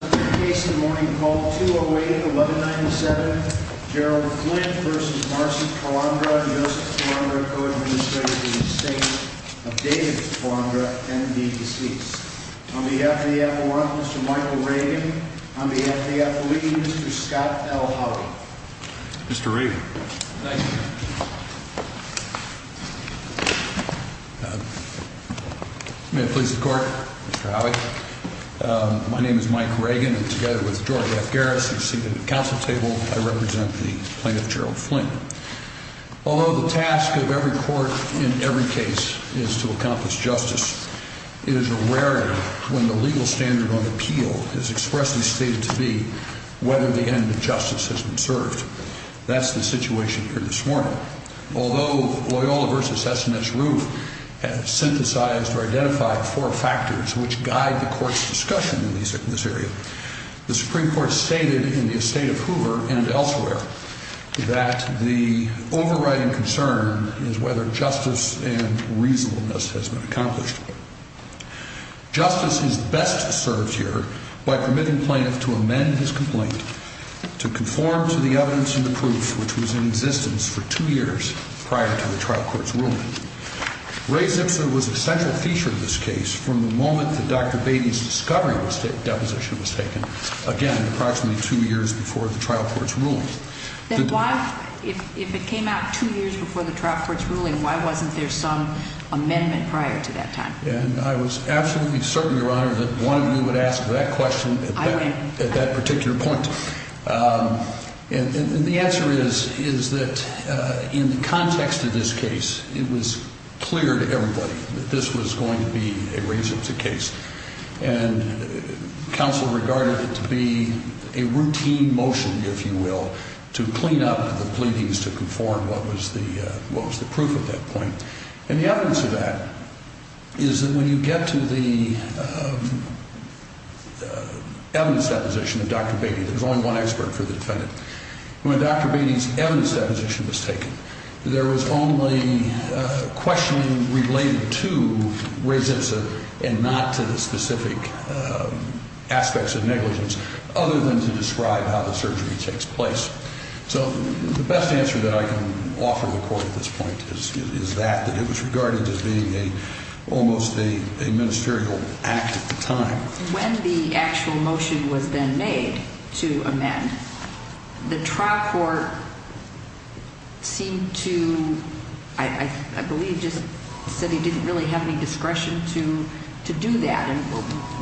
Case in the morning called 208-1197, Gerald Flynn v. Marcy Calandra v. Joseph Calandra, co-administrator of the estate of David Calandra and the deceased. On behalf of the FAF1, Mr. Michael Raven. On behalf of the FAF League, Mr. Scott L. Howie. Mr. Raven. Thank you. May it please the court, Mr. Howie. My name is Mike Ragen, and together with George F. Garris, who is seated at the council table, I represent the plaintiff, Gerald Flynn. Although the task of every court in every case is to accomplish justice, it is a rarity when the legal standard on appeal is expressly stated to be whether the end of justice has been served. That's the situation here this morning. Although Loyola v. S&S Roof synthesized or identified four factors which guide the court's discussion in this area, the Supreme Court stated in the estate of Hoover and elsewhere that the overriding concern is whether justice and reasonableness has been accomplished. Justice is best served here by permitting plaintiff to amend his complaint to conform to the evidence and the proof which was in existence for two years prior to the trial court's ruling. Ray Zipser was a central feature of this case from the moment that Dr. Beatty's discovery deposition was taken, again, approximately two years before the trial court's ruling. If it came out two years before the trial court's ruling, why wasn't there some amendment prior to that time? I was absolutely certain, Your Honor, that one of you would ask that question at that particular point. And the answer is that in the context of this case, it was clear to everybody that this was going to be a Ray Zipser case. And counsel regarded it to be a routine motion, if you will, to clean up the pleadings to conform what was the proof at that point. And the evidence of that is that when you get to the evidence deposition of Dr. Beatty, there's only one expert for the defendant. When Dr. Beatty's evidence deposition was taken, there was only questioning related to Ray Zipser and not to the specific aspects of negligence other than to describe how the surgery takes place. So the best answer that I can offer the court at this point is that it was regarded as being almost a ministerial act at the time. When the actual motion was then made to amend, the trial court seemed to, I believe, just said he didn't really have any discretion to do that. And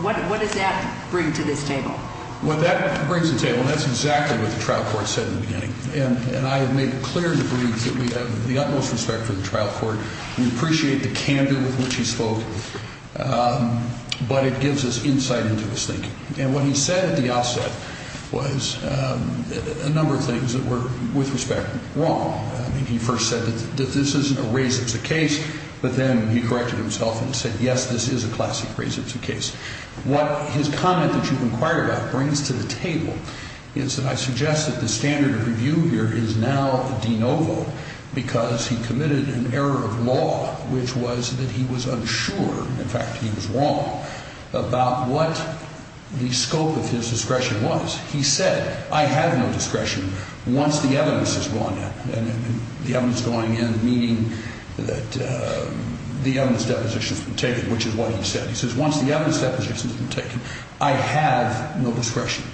what does that bring to this table? Well, that brings to the table, and that's exactly what the trial court said in the beginning. And I have made clear the briefs that we have the utmost respect for the trial court. We appreciate the candor with which he spoke, but it gives us insight into his thinking. And what he said at the offset was a number of things that were, with respect, wrong. I mean, he first said that this isn't a Ray Zipser case, but then he corrected himself and said, yes, this is a classic Ray Zipser case. What his comment that you've inquired about brings to the table is that I suggest that the standard of review here is now de novo because he committed an error of law, which was that he was unsure, in fact, he was wrong, about what the scope of his discretion was. He said, I have no discretion once the evidence has gone in. And the evidence going in meaning that the evidence deposition has been taken, which is what he said. He says, once the evidence deposition has been taken, I have no discretion.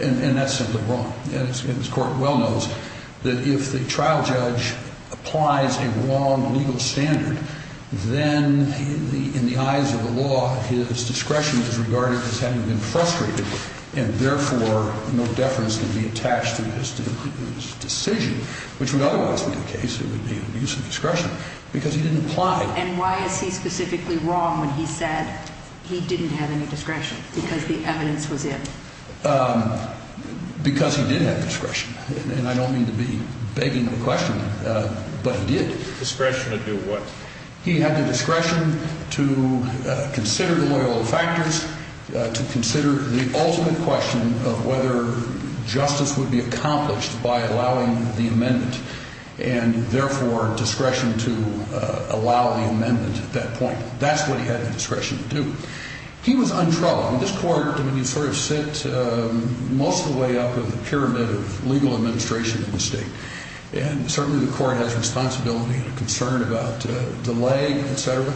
And that's simply wrong. And his court well knows that if the trial judge applies a wrong legal standard, then in the eyes of the law, his discretion is regarded as having been frustrated and, therefore, no deference can be attached to his decision, which would otherwise be the case, it would be an abuse of discretion, because he didn't apply. And why is he specifically wrong when he said he didn't have any discretion because the evidence was in? Because he did have discretion. And I don't mean to be begging of a question, but he did. Discretion to do what? He had the discretion to consider the loyal factors, to consider the ultimate question of whether justice would be accomplished by allowing the amendment and, therefore, discretion to allow the amendment at that point. That's what he had the discretion to do. He was untroubled. And this court, I mean, you sort of sit most of the way up in the pyramid of legal administration in this state. And certainly the court has responsibility and concern about delay, et cetera,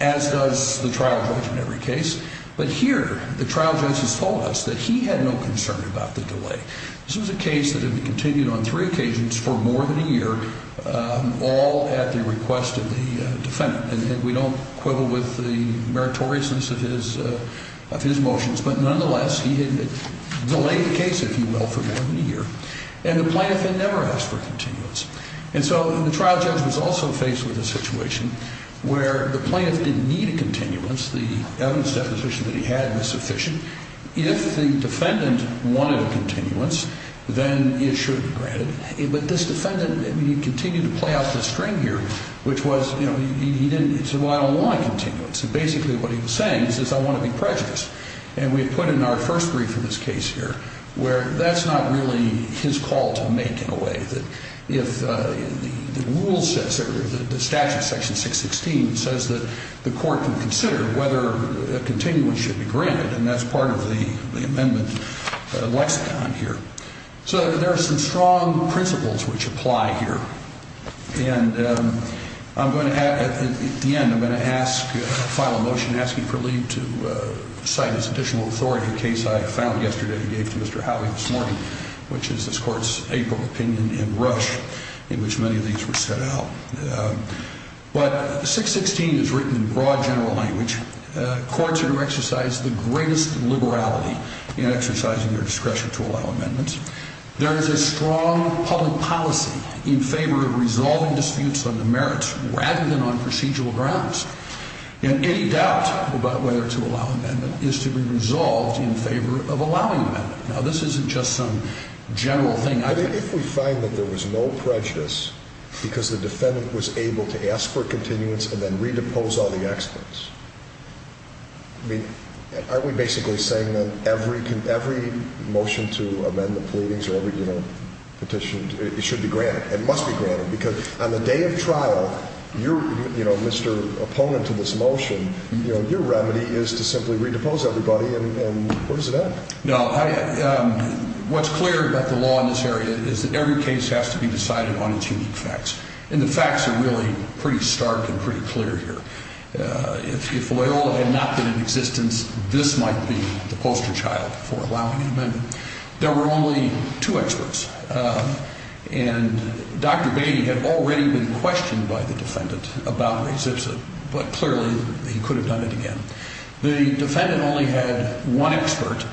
as does the trial judge in every case. But here, the trial judge has told us that he had no concern about the delay. This was a case that had been continued on three occasions for more than a year, all at the request of the defendant. And we don't quibble with the meritoriousness of his motions. But nonetheless, he had delayed the case, if you will, for more than a year. And the plaintiff had never asked for a continuance. And so the trial judge was also faced with a situation where the plaintiff didn't need a continuance. The evidence deposition that he had was sufficient. If the defendant wanted a continuance, then it should be granted. But this defendant, I mean, he continued to play out this string here, which was, you know, he didn't say, well, I don't want a continuance. And basically what he was saying is I want to be prejudiced. And we put in our first brief in this case here where that's not really his call to make in a way. But if the rule says, or the statute, section 616, says that the court can consider whether a continuance should be granted, and that's part of the amendment lexicon here. So there are some strong principles which apply here. And I'm going to ask, at the end, I'm going to ask, file a motion asking for leave to cite as additional authority a case I found yesterday that I gave to Mr. Howey this morning, which is this court's April opinion in Rush, in which many of these were set out. But 616 is written in broad general language. Courts are to exercise the greatest liberality in exercising their discretion to allow amendments. There is a strong public policy in favor of resolving disputes on the merits rather than on procedural grounds. And any doubt about whether to allow an amendment is to be resolved in favor of allowing an amendment. Now, this isn't just some general thing. If we find that there was no prejudice because the defendant was able to ask for a continuance and then redepose all the experts, I mean, aren't we basically saying that every motion to amend the pleadings or every petition should be granted? It must be granted because on the day of trial, you're Mr. Opponent to this motion. Your remedy is to simply redepose everybody, and where does it end? No, what's clear about the law in this area is that every case has to be decided on its unique facts. And the facts are really pretty stark and pretty clear here. If Loyola had not been in existence, this might be the poster child for allowing an amendment. There were only two experts, and Dr. Bainey had already been questioned by the defendant about res ipsa, but clearly he could have done it again. The defendant only had one expert,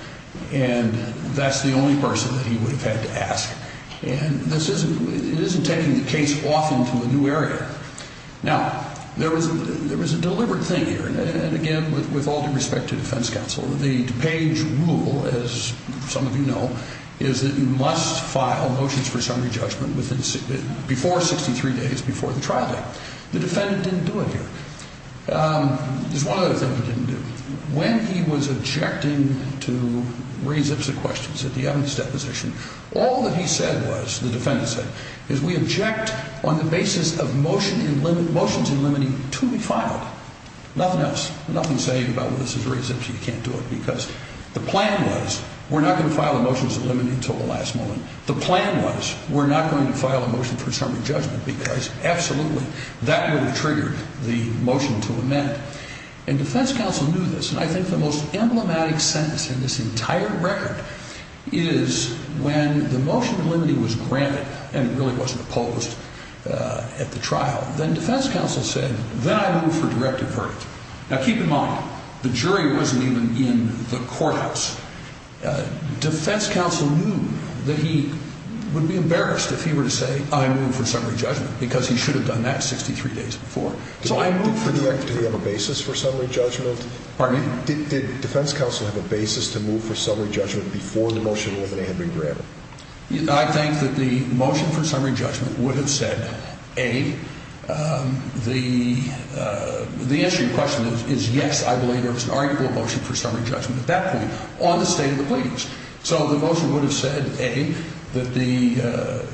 and that's the only person that he would have had to ask. And this isn't taking the case off into a new area. Now, there was a deliberate thing here, and again, with all due respect to defense counsel, the DuPage rule, as some of you know, is that you must file motions for summary judgment before 63 days, before the trial date. The defendant didn't do it here. There's one other thing he didn't do. When he was objecting to res ipsa questions at the evidence deposition, all that he said was, the defendant said, is we object on the basis of motions in limiting to be filed. Nothing else, nothing saying about this is res ipsa, you can't do it, because the plan was, we're not going to file the motions in limiting until the last moment. The plan was, we're not going to file a motion for summary judgment because absolutely that would have triggered the motion to amend. And defense counsel knew this, and I think the most emblematic sentence in this entire record is when the motion in limiting was granted and it really wasn't opposed at the trial. Then defense counsel said, then I move for directive verdict. Now, keep in mind, the jury wasn't even in the courthouse. Defense counsel knew that he would be embarrassed if he were to say, I move for summary judgment, because he should have done that 63 days before. So I move for directive. Did he have a basis for summary judgment? Pardon me? Did defense counsel have a basis to move for summary judgment before the motion was amended? I think that the motion for summary judgment would have said, A, the answer to your question is yes, I believe there was an article of motion for summary judgment at that point on the state of the pleadings. So the motion would have said, A, that the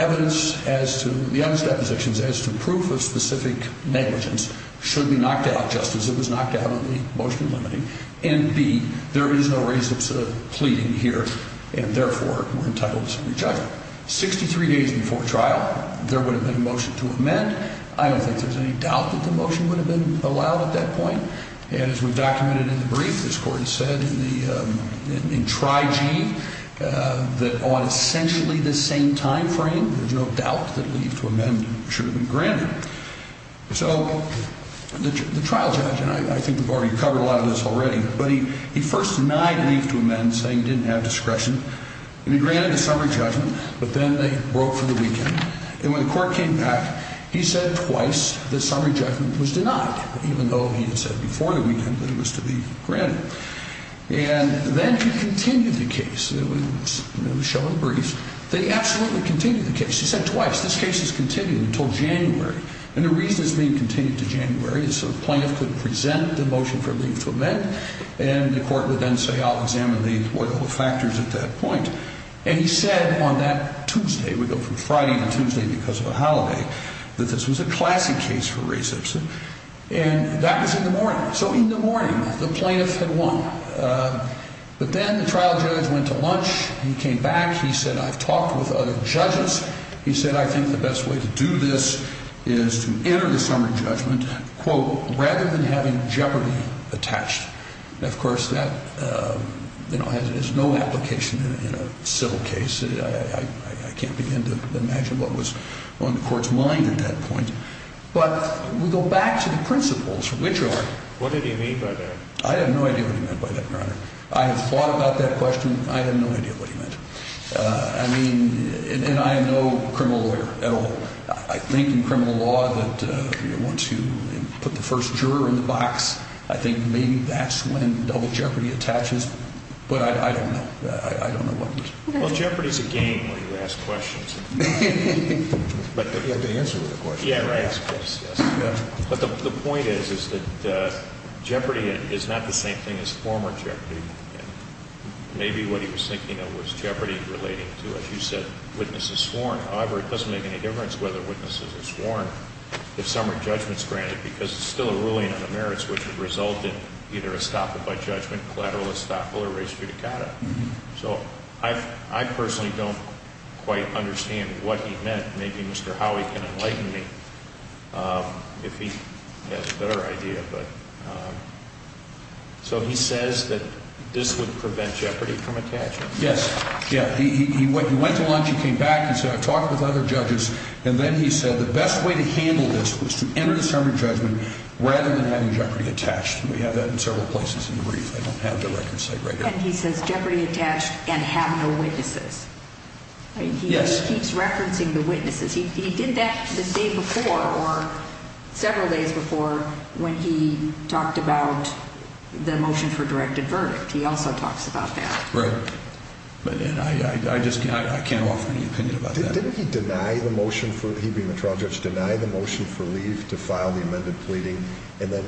evidence as to the evidence depositions as to proof of specific negligence should be knocked out just as it was knocked out in the motion in limiting, and, B, there is no reason to plead in here and, therefore, we're entitled to summary judgment. Sixty-three days before trial, there would have been a motion to amend. I don't think there's any doubt that the motion would have been allowed at that point. And as we documented in the brief, this Court has said in Tri-G that on essentially the same timeframe, there's no doubt that leave to amend should have been granted. So the trial judge, and I think we've already covered a lot of this already, but he first denied leave to amend, saying he didn't have discretion, and he granted the summary judgment, but then they broke for the weekend. And when the Court came back, he said twice that summary judgment was denied, even though he had said before the weekend that it was to be granted. And then he continued the case. It was shown in the brief. They absolutely continued the case. He said twice, this case is continued until January. And the reason it's being continued to January is so the plaintiff could present the motion for leave to amend, and the Court would then say, I'll examine the factors at that point. And he said on that Tuesday, we go from Friday to Tuesday because of a holiday, that this was a classic case for resubstant. And that was in the morning. So in the morning, the plaintiff had won. But then the trial judge went to lunch. He came back. He said, I've talked with other judges. He said, I think the best way to do this is to enter the summary judgment, quote, rather than having jeopardy attached. Of course, that, you know, has no application in a civil case. I can't begin to imagine what was on the Court's mind at that point. But we go back to the principles, which are? What did he mean by that? I have no idea what he meant by that, Your Honor. I have thought about that question. I have no idea what he meant. I mean, and I am no criminal lawyer at all. I think in criminal law that once you put the first juror in the box, I think maybe that's when double jeopardy attaches. But I don't know. I don't know what it is. Well, jeopardy is a game where you ask questions. But you have to answer the question. Yeah, right. But the point is, is that jeopardy is not the same thing as former jeopardy. Maybe what he was thinking of was jeopardy relating to, as you said, witnesses sworn. However, it doesn't make any difference whether witnesses are sworn, if some are judgments granted, because it's still a ruling on the merits, which would result in either estoppel by judgment, collateral estoppel, or res judicata. So I personally don't quite understand what he meant. Maybe Mr. Howey can enlighten me if he has a better idea. So he says that this would prevent jeopardy from attaching. Yes. Yeah. He went to lunch, he came back, he said, I talked with other judges, and then he said the best way to handle this was to enter the sermon judgment rather than having jeopardy attached. And we have that in several places in the brief. I don't have the record site right here. And he says jeopardy attached and have no witnesses. Yes. He keeps referencing the witnesses. He did that the day before, or several days before, when he talked about the motion for directed verdict. He also talks about that. Right. And I just can't offer any opinion about that. Didn't he deny the motion for he being the trial judge, deny the motion for leave to file the amended pleading, and then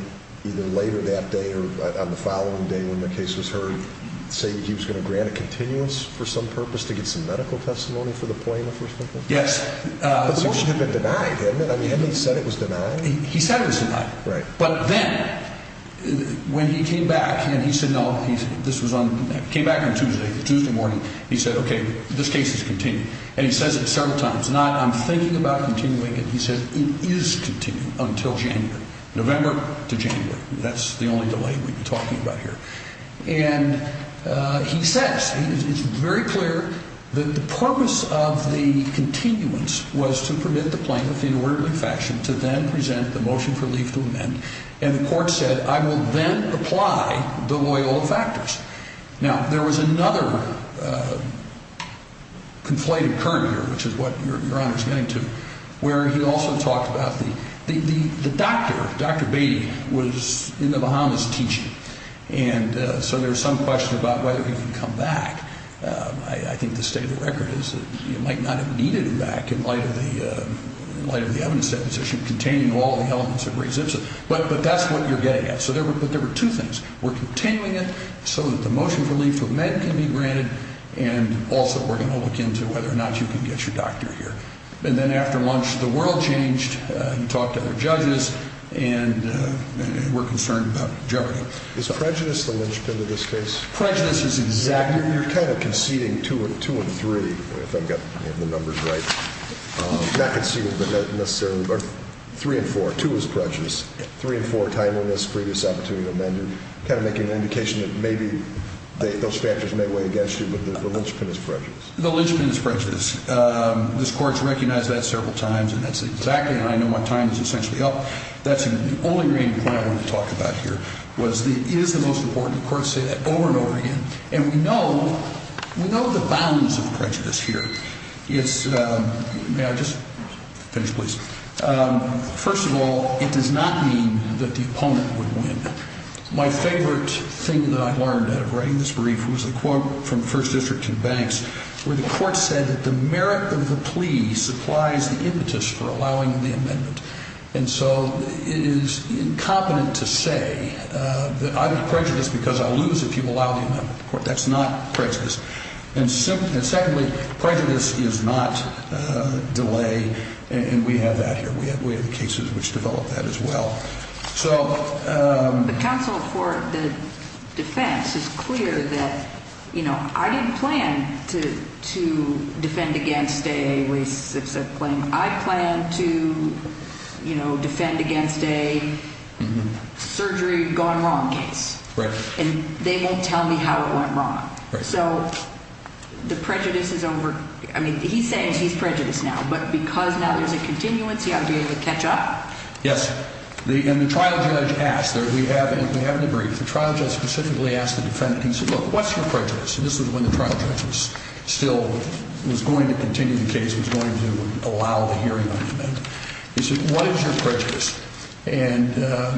either later that day or on the following day when the case was heard, say he was going to grant a continuous for some purpose to get some medical testimony for the plaintiff? Yes. But the motion had been denied, hadn't it? I mean, hadn't he said it was denied? He said it was denied. Right. But then when he came back and he said no, this was on, came back on Tuesday, Tuesday morning, he said, okay, this case is continued. And he says it several times. It's not I'm thinking about continuing it. He says it is continuing until January, November to January. That's the only delay we've been talking about here. And he says, it's very clear that the purpose of the continuance was to permit the plaintiff in orderly fashion to then present the motion for leave to amend, and the court said I will then apply the Loyola factors. Now, there was another conflated current here, which is what Your Honor is getting to, where he also talked about the doctor, Dr. Beatty, was in the Bahamas teaching, and so there's some question about whether he can come back. I think the state of the record is that he might not have needed him back in light of the evidence deposition containing all the elements of res ipsa. But that's what you're getting at. But there were two things. We're continuing it so that the motion for leave to amend can be granted, and also we're going to look into whether or not you can get your doctor here. And then after lunch, the world changed. He talked to other judges, and we're concerned about Jeopardy. Is prejudice the linchpin in this case? Prejudice is exactly. You're kind of conceding two and three, if I've got the numbers right. Not conceding necessarily, but three and four. Two is prejudice. Three and four, timeliness, previous opportunity to amend. You're kind of making an indication that maybe those factors may weigh against you, but the linchpin is prejudice. The linchpin is prejudice. This court has recognized that several times, and that's exactly, and I know my time is essentially up. That's the only thing I want to talk about here, was it is the most important court to say that over and over again. And we know the bounds of prejudice here. May I just finish, please? First of all, it does not mean that the opponent would win. My favorite thing that I learned out of writing this brief was a quote from the First District in Banks where the court said that the merit of the plea supplies the impetus for allowing the amendment. And so it is incompetent to say that I'm prejudiced because I'll lose if you allow the amendment. That's not prejudice. And secondly, prejudice is not delay, and we have that here. We have cases which develop that as well. The counsel for the defense is clear that, you know, I didn't plan to defend against a, I plan to, you know, defend against a surgery gone wrong case. And they won't tell me how it went wrong. So the prejudice is over. I mean, he's saying he's prejudiced now, but because now there's a continuance, he ought to be able to catch up. Yes, and the trial judge asked, and we have in the brief, the trial judge specifically asked the defendant, he said, look, what's your prejudice? And this was when the trial judge was still, was going to continue the case, was going to allow the hearing on the amendment. He said, what is your prejudice? And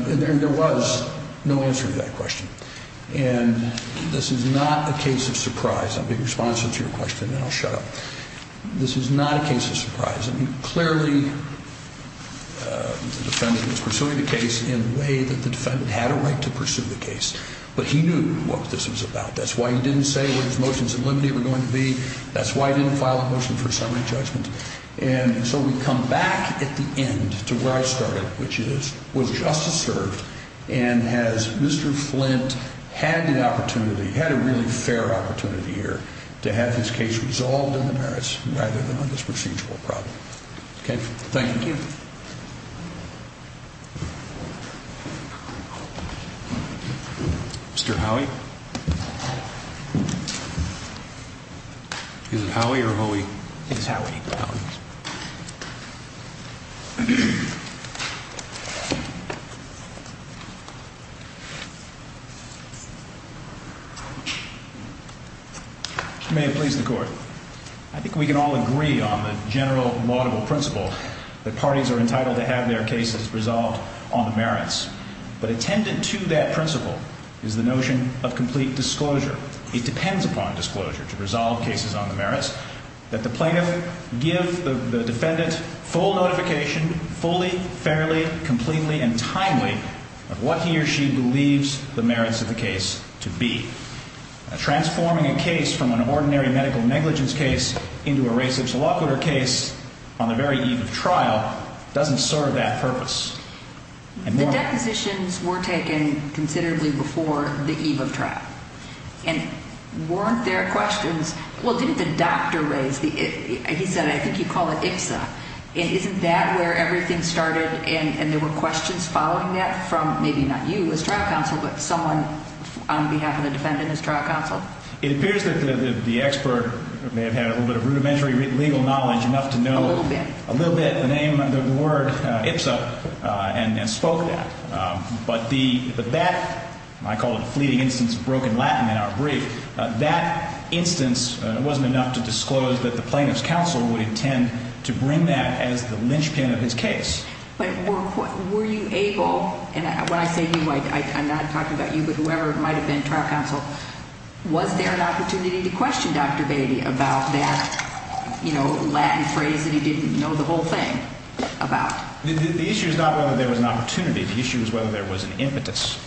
there was no answer to that question. And this is not a case of surprise. I'll be responsive to your question and then I'll shut up. This is not a case of surprise. I mean, clearly the defendant was pursuing the case in a way that the defendant had a right to pursue the case. But he knew what this was about. That's why he didn't say what his motions in limine were going to be. That's why he didn't file a motion for summary judgment. And so we come back at the end to where I started, which is, was justice served, and has Mr. Flint had an opportunity, had a really fair opportunity here, to have his case resolved in the merits rather than on this procedural problem. Okay. Thank you. Mr. Howie? Is it Howie or Hoey? It's Howie. Mr. Mayor, please, the Court. I think we can all agree on the general laudable principle that parties are entitled to have their cases resolved on the merits. But attendant to that principle is the notion of complete disclosure. It depends upon disclosure to resolve cases on the merits that the plaintiff give the defendant full notification, fully, fairly, completely, and timely of what he or she believes the merits of the case to be. Transforming a case from an ordinary medical negligence case into a race obsoloquer case on the very eve of trial doesn't serve that purpose. The depositions were taken considerably before the eve of trial. And weren't there questions, well, didn't the doctor raise, he said, I think you call it IPSA. Isn't that where everything started, and there were questions following that from maybe not you as trial counsel, but someone on behalf of the defendant as trial counsel? It appears that the expert may have had a little bit of rudimentary legal knowledge enough to know a little bit the name and the word IPSA and spoke that. But that, I call it a fleeting instance of broken Latin in our brief, that instance wasn't enough to disclose that the plaintiff's counsel would intend to bring that as the linchpin of his case. But were you able, and when I say you, I'm not talking about you, but whoever it might have been, trial counsel, was there an opportunity to question Dr. Beatty about that, you know, Latin phrase that he didn't know the whole thing about? The issue is not whether there was an opportunity. The issue is whether there was an impetus.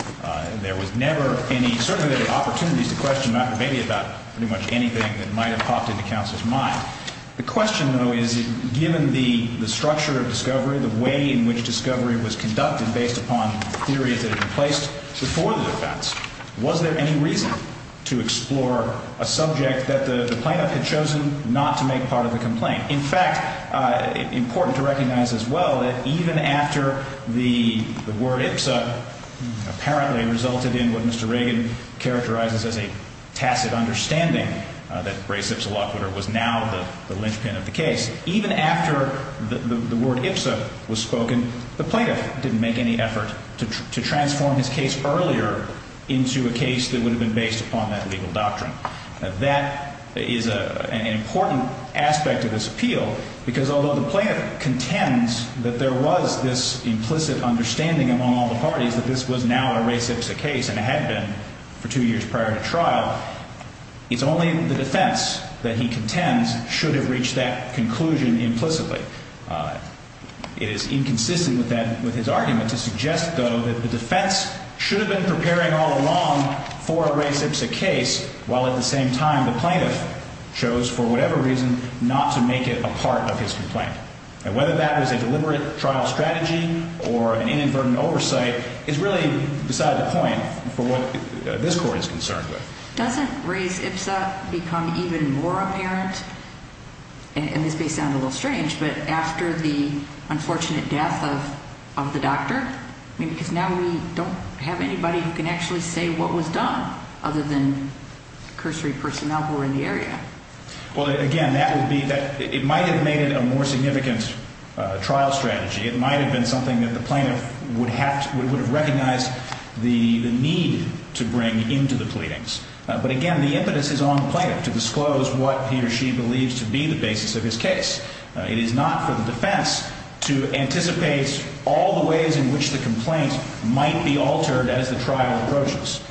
There was never any, certainly there were opportunities to question Dr. Beatty about pretty much anything that might have popped into counsel's mind. The question, though, is given the structure of discovery, the way in which discovery was conducted based upon theories that had been placed before the defense, was there any reason to explore a subject that the plaintiff had chosen not to make part of the complaint? In fact, important to recognize as well that even after the word IPSA apparently resulted in what Mr. Reagan characterizes as a tacit understanding, that race-IPSA law was now the linchpin of the case, even after the word IPSA was spoken, the plaintiff didn't make any effort to transform his case earlier into a case that would have been based upon that legal doctrine. That is an important aspect of this appeal, because although the plaintiff contends that there was this implicit understanding among all the parties that this was now a race-IPSA case, and it had been for two years prior to trial, it's only the defense that he contends should have reached that conclusion implicitly. It is inconsistent with his argument to suggest, though, that the defense should have been preparing all along for a race-IPSA case, while at the same time the plaintiff chose for whatever reason not to make it a part of his complaint. And whether that was a deliberate trial strategy or an inadvertent oversight is really beside the point for what this Court is concerned with. Doesn't race-IPSA become even more apparent, and this may sound a little strange, but after the unfortunate death of the doctor? I mean, because now we don't have anybody who can actually say what was done, other than cursory personnel who were in the area. Well, again, that would be that it might have made it a more significant trial strategy. It might have been something that the plaintiff would have recognized the need to bring into the pleadings. But again, the impetus is on the plaintiff to disclose what he or she believes to be the basis of his case. It is not for the defense to anticipate all the ways in which the complaint might be altered as the trial approaches.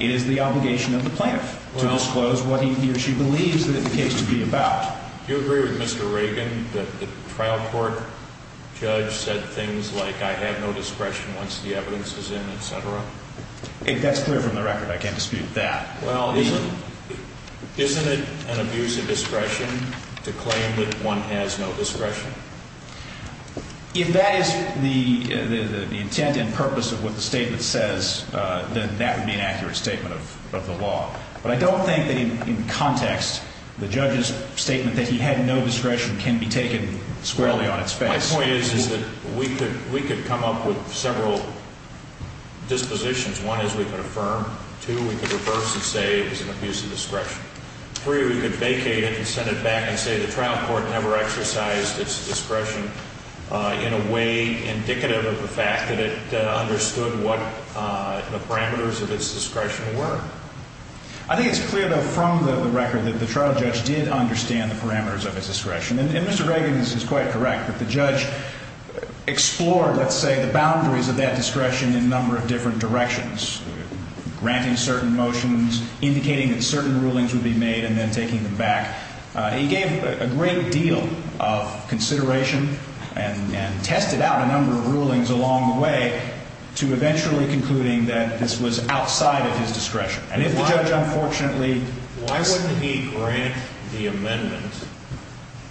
It is the obligation of the plaintiff to disclose what he or she believes the case to be about. Do you agree with Mr. Reagan that the trial court judge said things like, I have no discretion once the evidence is in, et cetera? That's clear from the record. I can't dispute that. Well, isn't it an abuse of discretion to claim that one has no discretion? If that is the intent and purpose of what the statement says, then that would be an accurate statement of the law. But I don't think that in context, the judge's statement that he had no discretion can be taken squarely on its face. My point is that we could come up with several dispositions. One is we could affirm. Two, we could reverse and say it was an abuse of discretion. Three, we could vacate it and send it back and say the trial court never exercised its discretion in a way indicative of the fact that it understood what the parameters of its discretion were. I think it's clear, though, from the record that the trial judge did understand the parameters of his discretion. And Mr. Reagan is quite correct that the judge explored, let's say, the boundaries of that discretion in a number of different directions, granting certain motions, indicating that certain rulings would be made, and then taking them back. He gave a great deal of consideration and tested out a number of rulings along the way to eventually concluding that this was outside of his discretion. Why wouldn't he grant the amendment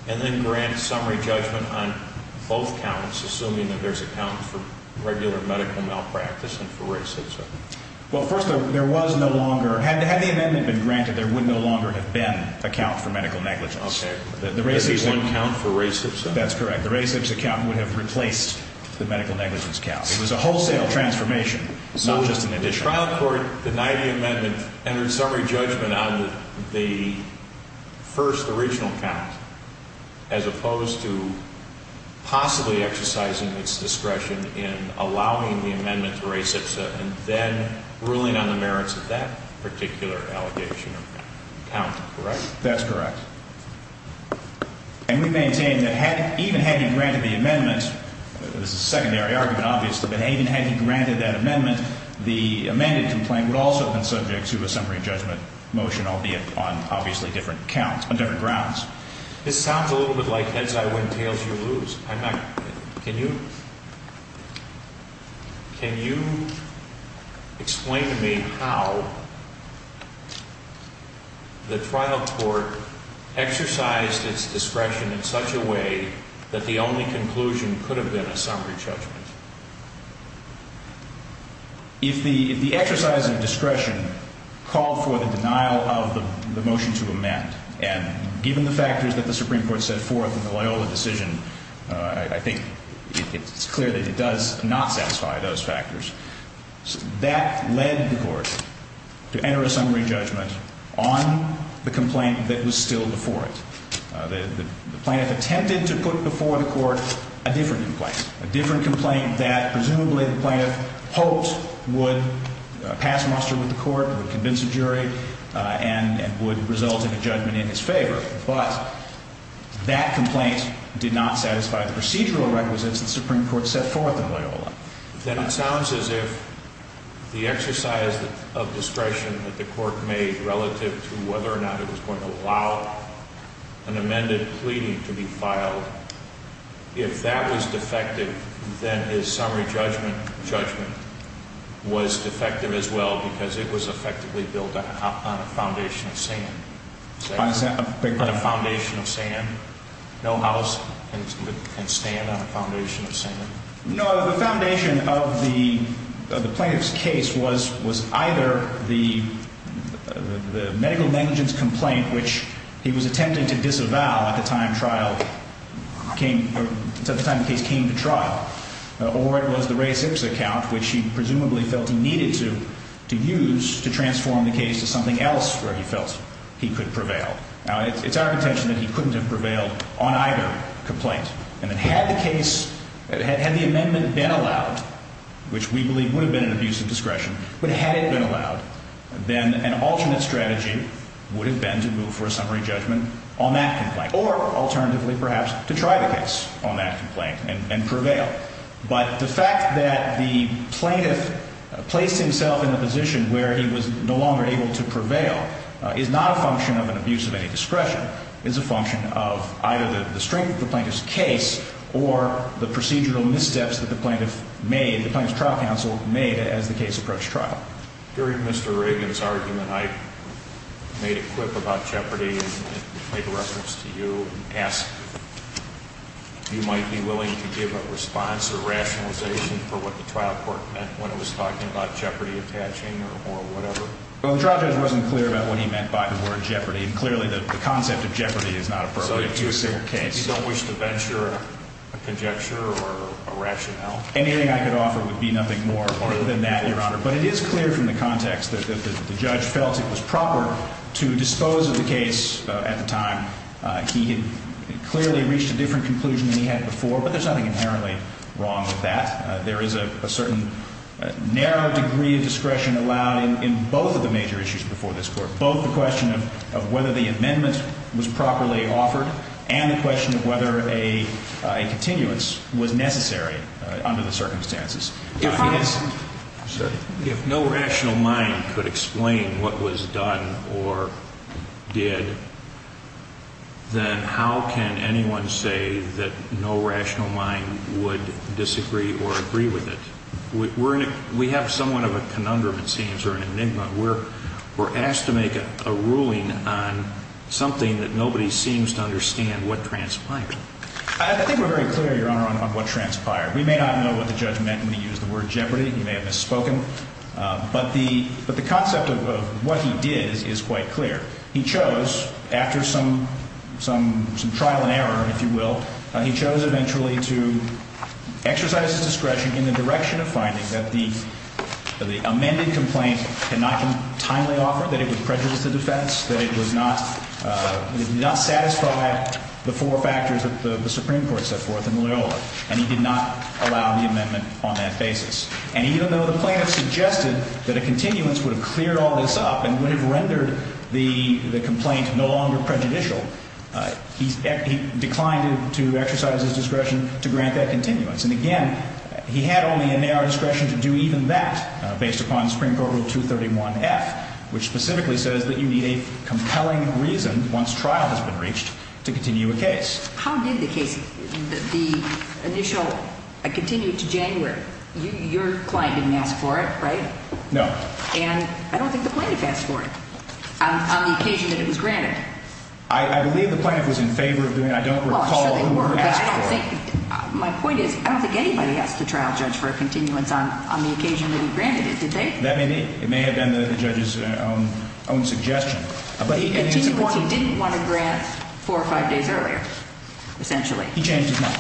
and then grant summary judgment on both counts, assuming that there's a count for regular medical malpractice and for racism? Well, first of all, there was no longer – had the amendment been granted, there would no longer have been a count for medical negligence. Okay. There would have been one count for racism? That's correct. The racism count would have replaced the medical negligence count. It was a wholesale transformation, not just an addition. The trial court denied the amendment, entered summary judgment on the first original count, as opposed to possibly exercising its discretion in allowing the amendment to race itself, and then ruling on the merits of that particular allegation or count. Correct? That's correct. And we maintain that even had he granted the amendment – this is a secondary argument, obviously – but even had he granted that amendment, the amended complaint would also have been subject to a summary judgment motion, albeit on obviously different counts, on different grounds. This sounds a little bit like heads I win, tails you lose. I'm not – can you explain to me how the trial court exercised its discretion in such a way that the only conclusion could have been a summary judgment? If the exercise of discretion called for the denial of the motion to amend, and given the factors that the Supreme Court set forth in the Loyola decision, I think it's clear that it does not satisfy those factors. That led the court to enter a summary judgment on the complaint that was still before it. The plaintiff attempted to put before the court a different complaint, a different complaint that presumably the plaintiff hoped would pass muster with the court, would convince a jury, and would result in a judgment in his favor. But that complaint did not satisfy the procedural requisites that the Supreme Court set forth in Loyola. Then it sounds as if the exercise of discretion that the court made relative to whether or not it was going to allow an amended pleading to be filed, if that was defective, then his summary judgment was defective as well because it was effectively built on a foundation of sand. On a foundation of sand? No house can stand on a foundation of sand? No, the foundation of the plaintiff's case was either the medical negligence complaint, which he was attempting to disavow at the time the case came to trial, or it was the Ray Six account, which he presumably felt he needed to use to transform the case to something else where he felt he could prevail. Now, it's our contention that he couldn't have prevailed on either complaint. And that had the case, had the amendment been allowed, which we believe would have been an abuse of discretion, but had it been allowed, then an alternate strategy would have been to move for a summary judgment on that complaint, or alternatively, perhaps, to try the case on that complaint and prevail. But the fact that the plaintiff placed himself in a position where he was no longer able to prevail is not a function of an abuse of any discretion. It's a function of either the strength of the plaintiff's case or the procedural missteps that the plaintiff made, the plaintiff's trial counsel made as the case approached trial. During Mr. Reagan's argument, I made a quip about jeopardy and made a reference to you and asked if you might be willing to give a response or rationalization for what the trial court meant when it was talking about jeopardy attaching or whatever. Well, the trial judge wasn't clear about what he meant by the word jeopardy, and clearly the concept of jeopardy is not appropriate to a single case. So you don't wish to venture a conjecture or a rationale? Anything I could offer would be nothing more than that, Your Honor. But it is clear from the context that the judge felt it was proper to dispose of the case at the time. He had clearly reached a different conclusion than he had before, but there's nothing inherently wrong with that. There is a certain narrow degree of discretion allowed in both of the major issues before this Court, both the question of whether the amendment was properly offered and the question of whether a continuance was necessary under the circumstances. If no rational mind could explain what was done or did, then how can anyone say that no rational mind would disagree or agree with it? We have somewhat of a conundrum, it seems, or an enigma. We're asked to make a ruling on something that nobody seems to understand what transpired. I think we're very clear, Your Honor, on what transpired. We may not know what the judge meant when he used the word jeopardy. He may have misspoken. But the concept of what he did is quite clear. He chose, after some trial and error, if you will, he chose eventually to exercise his discretion in the direction of finding that the amended complaint could not be timely offered, that it would prejudice the defense, that it would not satisfy the four factors that the Supreme Court set forth in Loyola. And he did not allow the amendment on that basis. And even though the plaintiff suggested that a continuance would have cleared all this up and would have rendered the complaint no longer prejudicial, he declined to exercise his discretion to grant that continuance. And again, he had only a narrow discretion to do even that based upon Supreme Court Rule 231F, which specifically says that you need a compelling reason, once trial has been reached, to continue a case. How did the case, the initial, continue to January? Your client didn't ask for it, right? No. And I don't think the plaintiff asked for it on the occasion that it was granted. I believe the plaintiff was in favor of doing it. I don't recall who asked for it. My point is I don't think anybody asked the trial judge for a continuance on the occasion that he granted it, did they? That may be. It may have been the judge's own suggestion. But he didn't want to grant four or five days earlier, essentially. He changed his mind.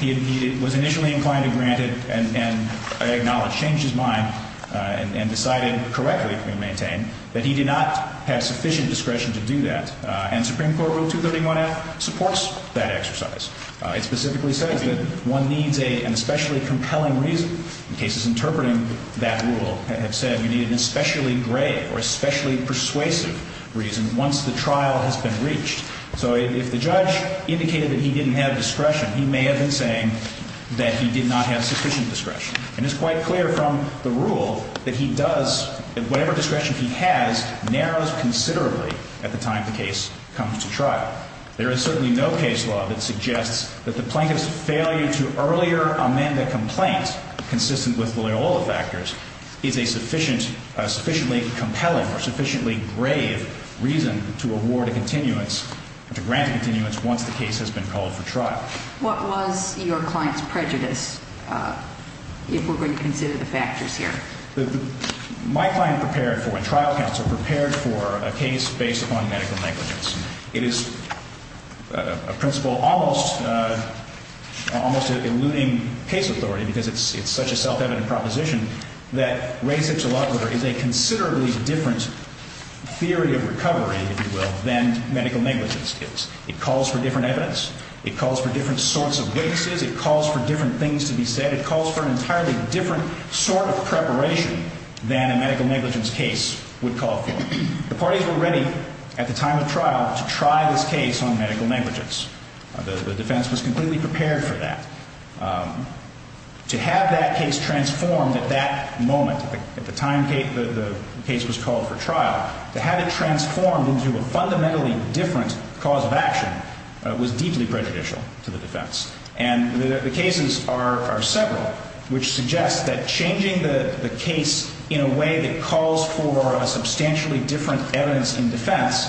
He was initially inclined to grant it and acknowledged, changed his mind, and decided correctly, can we maintain, that he did not have sufficient discretion to do that. And Supreme Court Rule 231F supports that exercise. It specifically says that one needs an especially compelling reason. Once the trial has been reached. So if the judge indicated that he didn't have discretion, he may have been saying that he did not have sufficient discretion. And it's quite clear from the rule that he does, whatever discretion he has, narrows considerably at the time the case comes to trial. There is certainly no case law that suggests that the plaintiff's failure to earlier amend a complaint, consistent with all the factors, is a sufficiently compelling or sufficiently brave reason to award a continuance, to grant a continuance once the case has been called for trial. What was your client's prejudice, if we're going to consider the factors here? My client prepared for a trial counsel, prepared for a case based upon medical negligence. It is a principle almost, almost eluding case authority, because it's such a self-evident proposition, that race-hypsologer is a considerably different theory of recovery, if you will, than medical negligence is. It calls for different evidence. It calls for different sorts of witnesses. It calls for different things to be said. It calls for an entirely different sort of preparation than a medical negligence case would call for. The parties were ready at the time of trial to try this case on medical negligence. The defense was completely prepared for that. To have that case transformed at that moment, at the time the case was called for trial, to have it transformed into a fundamentally different cause of action was deeply prejudicial to the defense. And the cases are several, which suggests that changing the case in a way that calls for a substantially different evidence in defense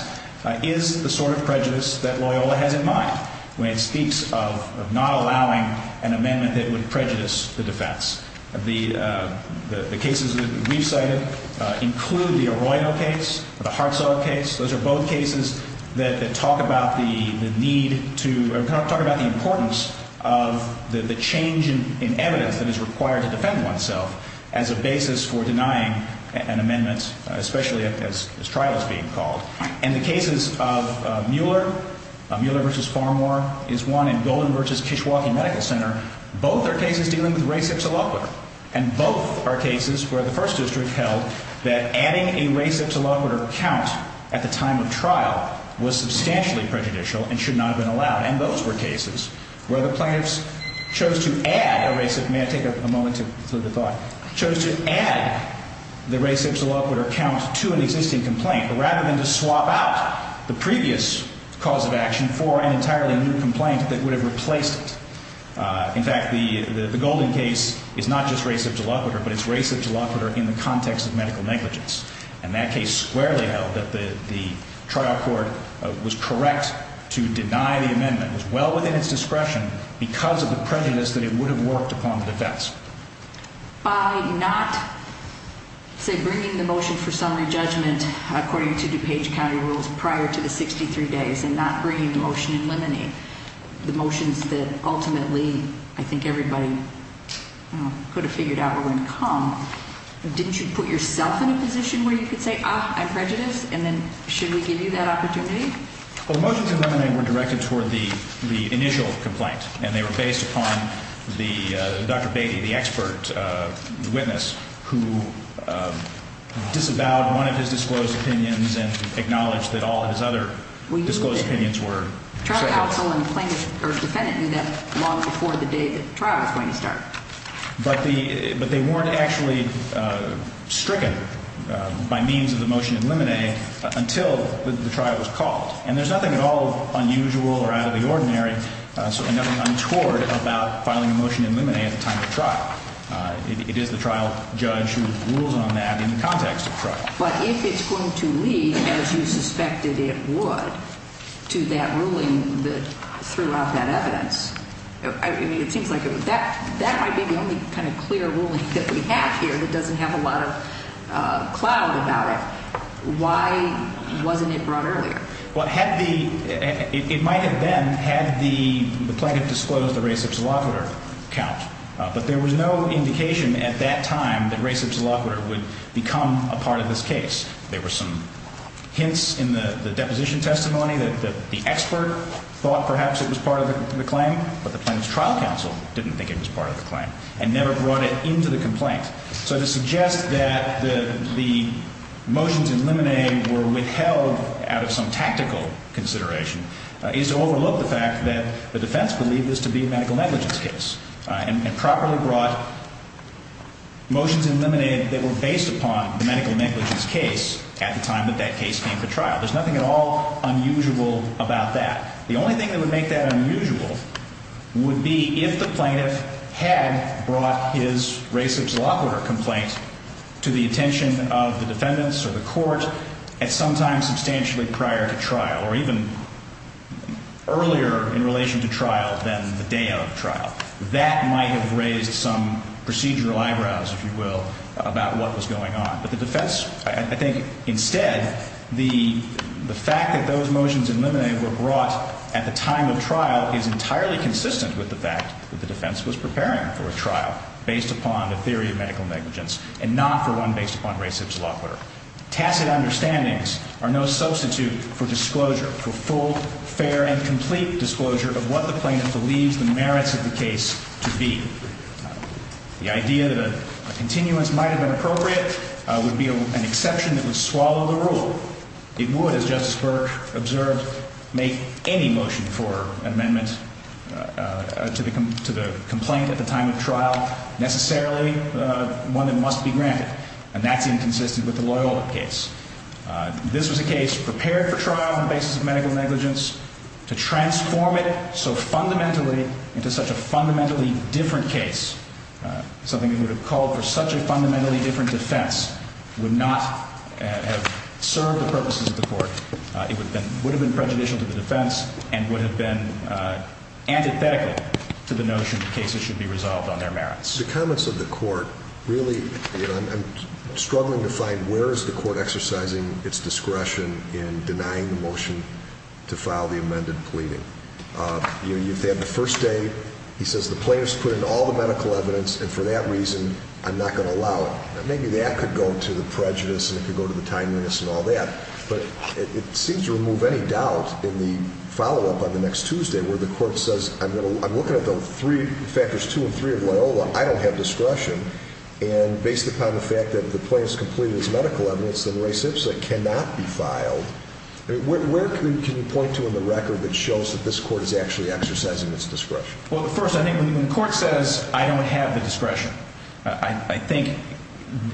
is the sort of prejudice that Loyola has in mind when it speaks of not allowing an amendment that would prejudice the defense. The cases that we've cited include the Arroyo case, the Hartzell case. Those are both cases that talk about the need to or talk about the importance of the change in evidence that is required to defend oneself as a basis for denying an amendment, especially as this trial is being called. And the cases of Mueller, Mueller v. Farmore is one, and Golden v. Kishwaukee Medical Center, both are cases dealing with race-hypsoloquer. And both are cases where the First District held that adding a race-hypsoloquer count at the time of trial was substantially prejudicial and should not have been allowed. And those were cases where the plaintiffs chose to add a race-hyp- May I take a moment to clear the thought? Chose to add the race-hypsoloquer count to an existing complaint, rather than to swap out the previous cause of action for an entirely new complaint that would have replaced it. In fact, the Golden case is not just race-hypsoloquer, but it's race-hypsoloquer in the context of medical negligence. And that case squarely held that the trial court was correct to deny the amendment. It was well within its discretion because of the prejudice that it would have worked upon the defense. By not, say, bringing the motion for summary judgment according to DuPage County rules prior to the 63 days and not bringing the motion in limine, the motions that ultimately I think everybody could have figured out were going to come, didn't you put yourself in a position where you could say, ah, I'm prejudiced, and then should we give you that opportunity? Well, the motions in limine were directed toward the initial complaint, and they were based upon Dr. Beatty, the expert witness who disavowed one of his disclosed opinions and acknowledged that all of his other disclosed opinions were second. The trial counsel and plaintiff or defendant knew that long before the day the trial was going to start. But they weren't actually stricken by means of the motion in limine until the trial was called. And there's nothing at all unusual or out of the ordinary, certainly nothing untoward, about filing a motion in limine at the time of the trial. It is the trial judge who rules on that in the context of the trial. But if it's going to lead, as you suspected it would, to that ruling that threw out that evidence, I mean, it seems like that might be the only kind of clear ruling that we have here that doesn't have a lot of cloud about it. Why wasn't it brought earlier? Well, it might have been had the plaintiff disclosed the res ipsa loquitur count. But there was no indication at that time that res ipsa loquitur would become a part of this case. There were some hints in the deposition testimony that the expert thought perhaps it was part of the claim, but the plaintiff's trial counsel didn't think it was part of the claim and never brought it into the complaint. So to suggest that the motions in limine were withheld out of some tactical consideration is to overlook the fact that the defense believed this to be a medical negligence case. And properly brought motions in limine that were based upon the medical negligence case at the time that that case came to trial. There's nothing at all unusual about that. The only thing that would make that unusual would be if the plaintiff had brought his res ipsa loquitur complaint to the attention of the defendants or the court at some time substantially prior to trial or even earlier in relation to trial than the day of trial. That might have raised some procedural eyebrows, if you will, about what was going on. But the defense, I think, instead, the fact that those motions in limine were brought at the time of trial is entirely consistent with the fact that the defense was preparing for a trial based upon a theory of medical negligence and not, for one, based upon res ipsa loquitur. Tacit understandings are no substitute for disclosure, for full, fair, and complete disclosure of what the plaintiff believes the merits of the case to be. The idea that a continuance might have been appropriate would be an exception that would swallow the rule. It would, as Justice Burke observed, make any motion for amendment to the complaint at the time of trial necessarily one that must be granted. And that's inconsistent with the Loyola case. This was a case prepared for trial on the basis of medical negligence. To transform it so fundamentally into such a fundamentally different case, something that would have called for such a fundamentally different defense, would not have served the purposes of the court. It would have been prejudicial to the defense and would have been antithetical to the notion that cases should be resolved on their merits. The comments of the court, really, I'm struggling to find where is the court exercising its discretion in denying the motion to file the amended pleading. You have the first day, he says the plaintiff's put in all the medical evidence and for that reason I'm not going to allow it. Maybe that could go to the prejudice and it could go to the timeliness and all that. But it seems to remove any doubt in the follow-up on the next Tuesday where the court says, I'm looking at those three factors, two and three of Loyola, I don't have discretion. And based upon the fact that the plaintiff's completed his medical evidence, then Ray Simpson cannot be filed. Where can you point to in the record that shows that this court is actually exercising its discretion? Well, first, I think when the court says I don't have the discretion, I think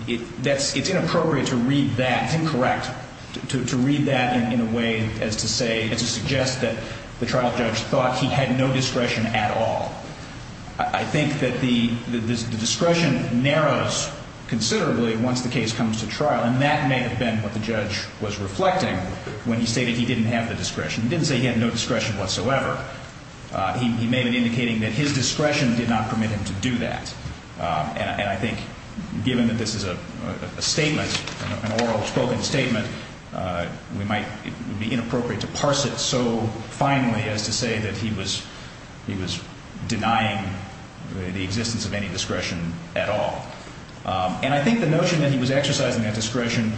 it's inappropriate to read that. That's incorrect to read that in a way as to suggest that the trial judge thought he had no discretion at all. I think that the discretion narrows considerably once the case comes to trial and that may have been what the judge was reflecting when he stated he didn't have the discretion. He didn't say he had no discretion whatsoever. He may have been indicating that his discretion did not permit him to do that. And I think given that this is a statement, an oral spoken statement, we might be inappropriate to parse it so finely as to say that he was denying the existence of any discretion at all. And I think the notion that he was exercising that discretion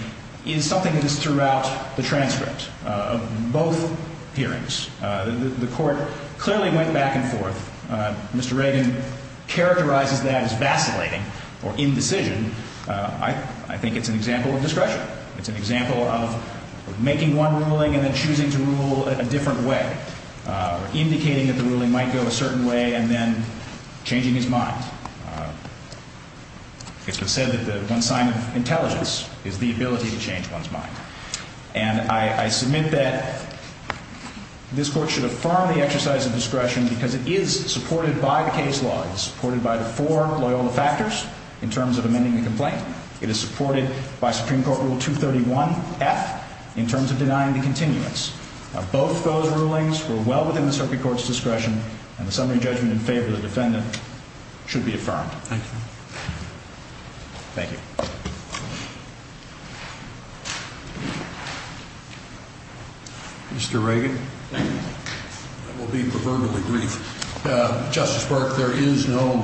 is something that is throughout the transcript of both hearings. The court clearly went back and forth. If Mr. Reagan characterizes that as vacillating or indecision, I think it's an example of discretion. It's an example of making one ruling and then choosing to rule in a different way or indicating that the ruling might go a certain way and then changing his mind. It's been said that one sign of intelligence is the ability to change one's mind. And I submit that this court should affirm the exercise of discretion because it is supported by the case law. It is supported by the four Loyola factors in terms of amending the complaint. It is supported by Supreme Court Rule 231F in terms of denying the continuance. Both those rulings were well within the circuit court's discretion and the summary judgment in favor of the defendant should be affirmed. Thank you. Thank you. Mr. Reagan. Thank you. I will be proverbially brief. Justice Burke, there is no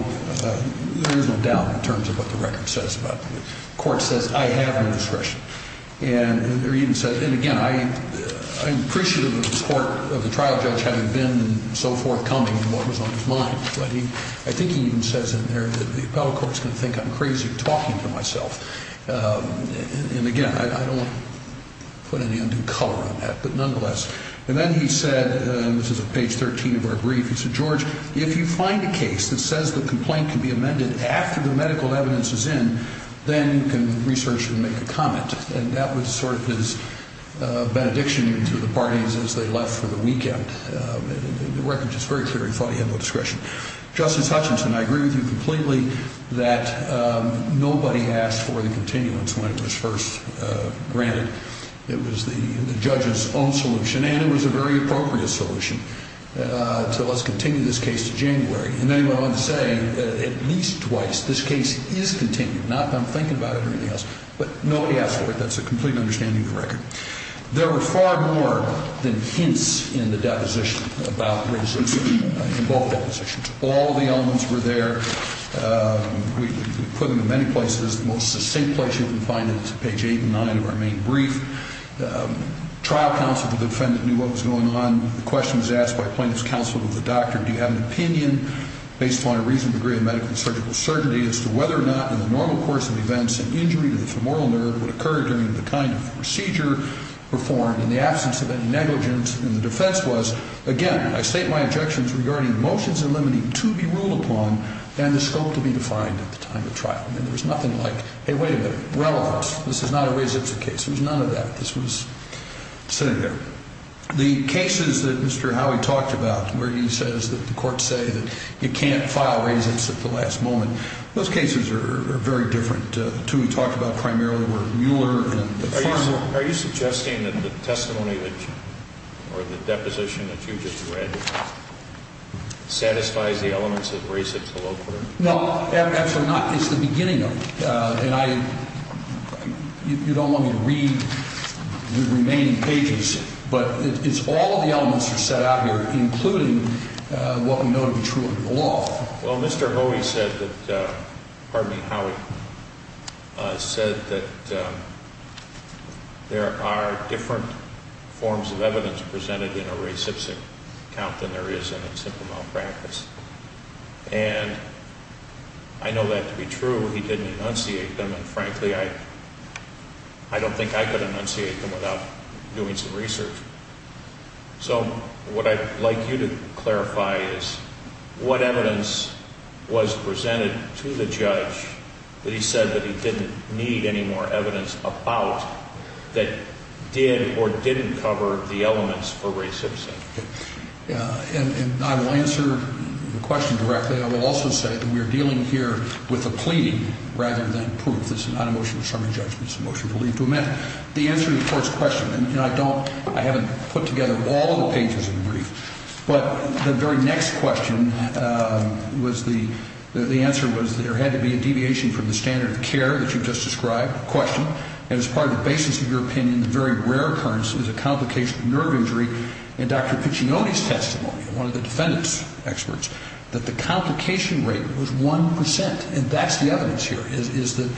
doubt in terms of what the record says about this. The court says, I have no discretion. And again, I'm appreciative of the court, of the trial judge, having been so forthcoming in what was on his mind. But I think he even says in there that the appellate court's going to think I'm crazy talking to myself. And again, I don't want to put any undue color on that, but nonetheless. And then he said, and this is page 13 of our brief, he said, George, if you find a case that says the complaint can be amended after the medical evidence is in, then you can research and make a comment. And that was sort of his benediction to the parties as they left for the weekend. The record is very clear, he thought he had no discretion. Justice Hutchinson, I agree with you completely that nobody asked for the continuance when it was first granted. It was the judge's own solution, and it was a very appropriate solution. So let's continue this case to January. And then he went on to say, at least twice, this case is continued. Not that I'm thinking about it or anything else. But nobody asked for it. That's a complete understanding of the record. There were far more than hints in the deposition about racism in both depositions. All the elements were there. We put them in many places. The most succinct place you can find it is page 8 and 9 of our main brief. Trial counsel, the defendant, knew what was going on. The question was asked by plaintiff's counsel to the doctor, do you have an opinion, based on a reasonable degree of medical and surgical certainty, as to whether or not, in the normal course of events, an injury to the femoral nerve would occur during the kind of procedure performed, in the absence of any negligence. And the defense was, again, I state my objections regarding motions and limiting to be ruled upon, and the scope to be defined at the time of trial. And there was nothing like, hey, wait a minute, relevance. This is not a res ipsa case. It was none of that. This was sitting there. The cases that Mr. Howie talked about, where he says that the courts say that you can't file res ipsa at the last moment, those cases are very different. The two we talked about primarily were Mueller and Farmer. Are you suggesting that the testimony or the deposition that you just read satisfies the elements of res ipsa law? No, absolutely not. It's the beginning of it. You don't want me to read the remaining pages, but it's all of the elements that are set out here, including what we know to be true under the law. Well, Mr. Howie said that there are different forms of evidence presented in a res ipsa account than there is in a simple malpractice. And I know that to be true. He didn't enunciate them. And, frankly, I don't think I could enunciate them without doing some research. So what I'd like you to clarify is what evidence was presented to the judge that he said that he didn't need any more evidence about that did or didn't cover the elements for res ipsa. And I will answer the question directly. I will also say that we are dealing here with a plea rather than proof. This is not a motion of summary judgment. It's a motion to leave to amend. The answer to the court's question, and I haven't put together all of the pages of the brief, but the very next question was the answer was there had to be a deviation from the standard of care that you just described, a question, and as part of the basis of your opinion, is a complication of nerve injury in Dr. Piccioni's testimony, one of the defendant's experts, that the complication rate was 1 percent. And that's the evidence here is that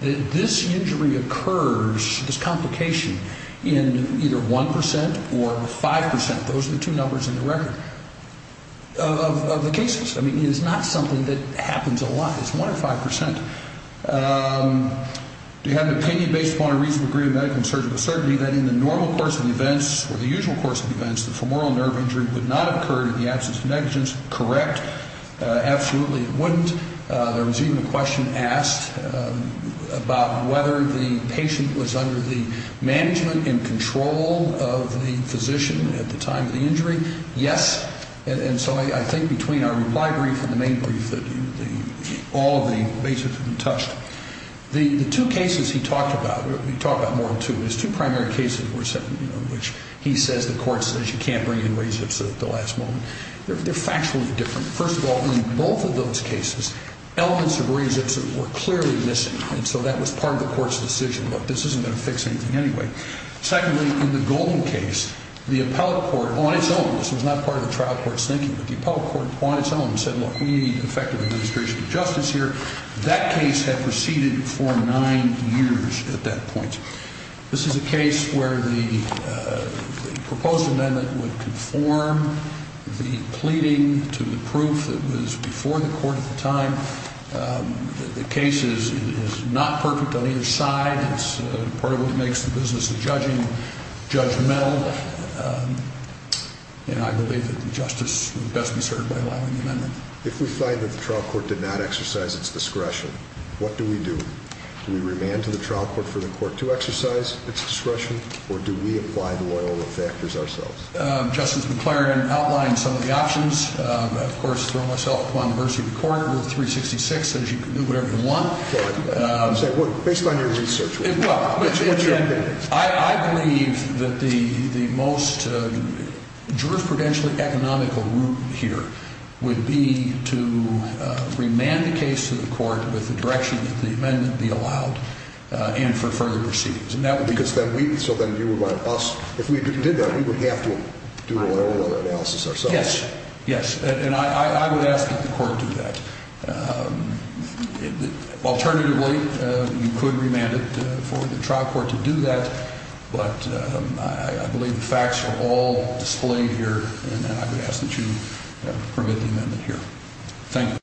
this injury occurs, this complication, in either 1 percent or 5 percent. Those are the two numbers in the record of the cases. I mean, it's not something that happens a lot. It's 1 or 5 percent. Do you have an opinion based upon a reasonable degree of medical and surgical certainty that in the normal course of events or the usual course of events, the femoral nerve injury would not occur in the absence of negligence? Correct. Absolutely it wouldn't. There was even a question asked about whether the patient was under the management and control of the physician at the time of the injury. Yes. And so I think between our reply brief and the main brief, all of the basics have been touched. The two cases he talked about, we talked about more than two, his two primary cases which he says the court says you can't bring in res ipsa at the last moment, they're factually different. First of all, in both of those cases, elements of res ipsa were clearly missing, and so that was part of the court's decision, look, this isn't going to fix anything anyway. Secondly, in the Golden case, the appellate court on its own, this was not part of the trial court's thinking, but the appellate court on its own said, look, we need effective administrative justice here. That case had proceeded for nine years at that point. This is a case where the proposed amendment would conform the pleading to the proof that was before the court at the time. The case is not perfect on either side. It's part of what makes the business of judging judgmental, and I believe that the justice would best be served by allowing the amendment. If we find that the trial court did not exercise its discretion, what do we do? Do we remand to the trial court for the court to exercise its discretion, or do we apply the Loyola factors ourselves? Justice McClaren outlined some of the options. Of course, throwing myself upon the mercy of the court, we're 366, so you can do whatever you want. Based on your research, what's your opinion? I believe that the most jurisprudentially economical route here would be to remand the case to the court with the direction that the amendment be allowed and for further proceedings. Because then you would want us, if we did that, we would have to do a Loyola analysis ourselves. Yes, yes, and I would ask that the court do that. Alternatively, you could remand it for the trial court to do that, but I believe the facts are all displayed here, and I would ask that you permit the amendment here. Thank you.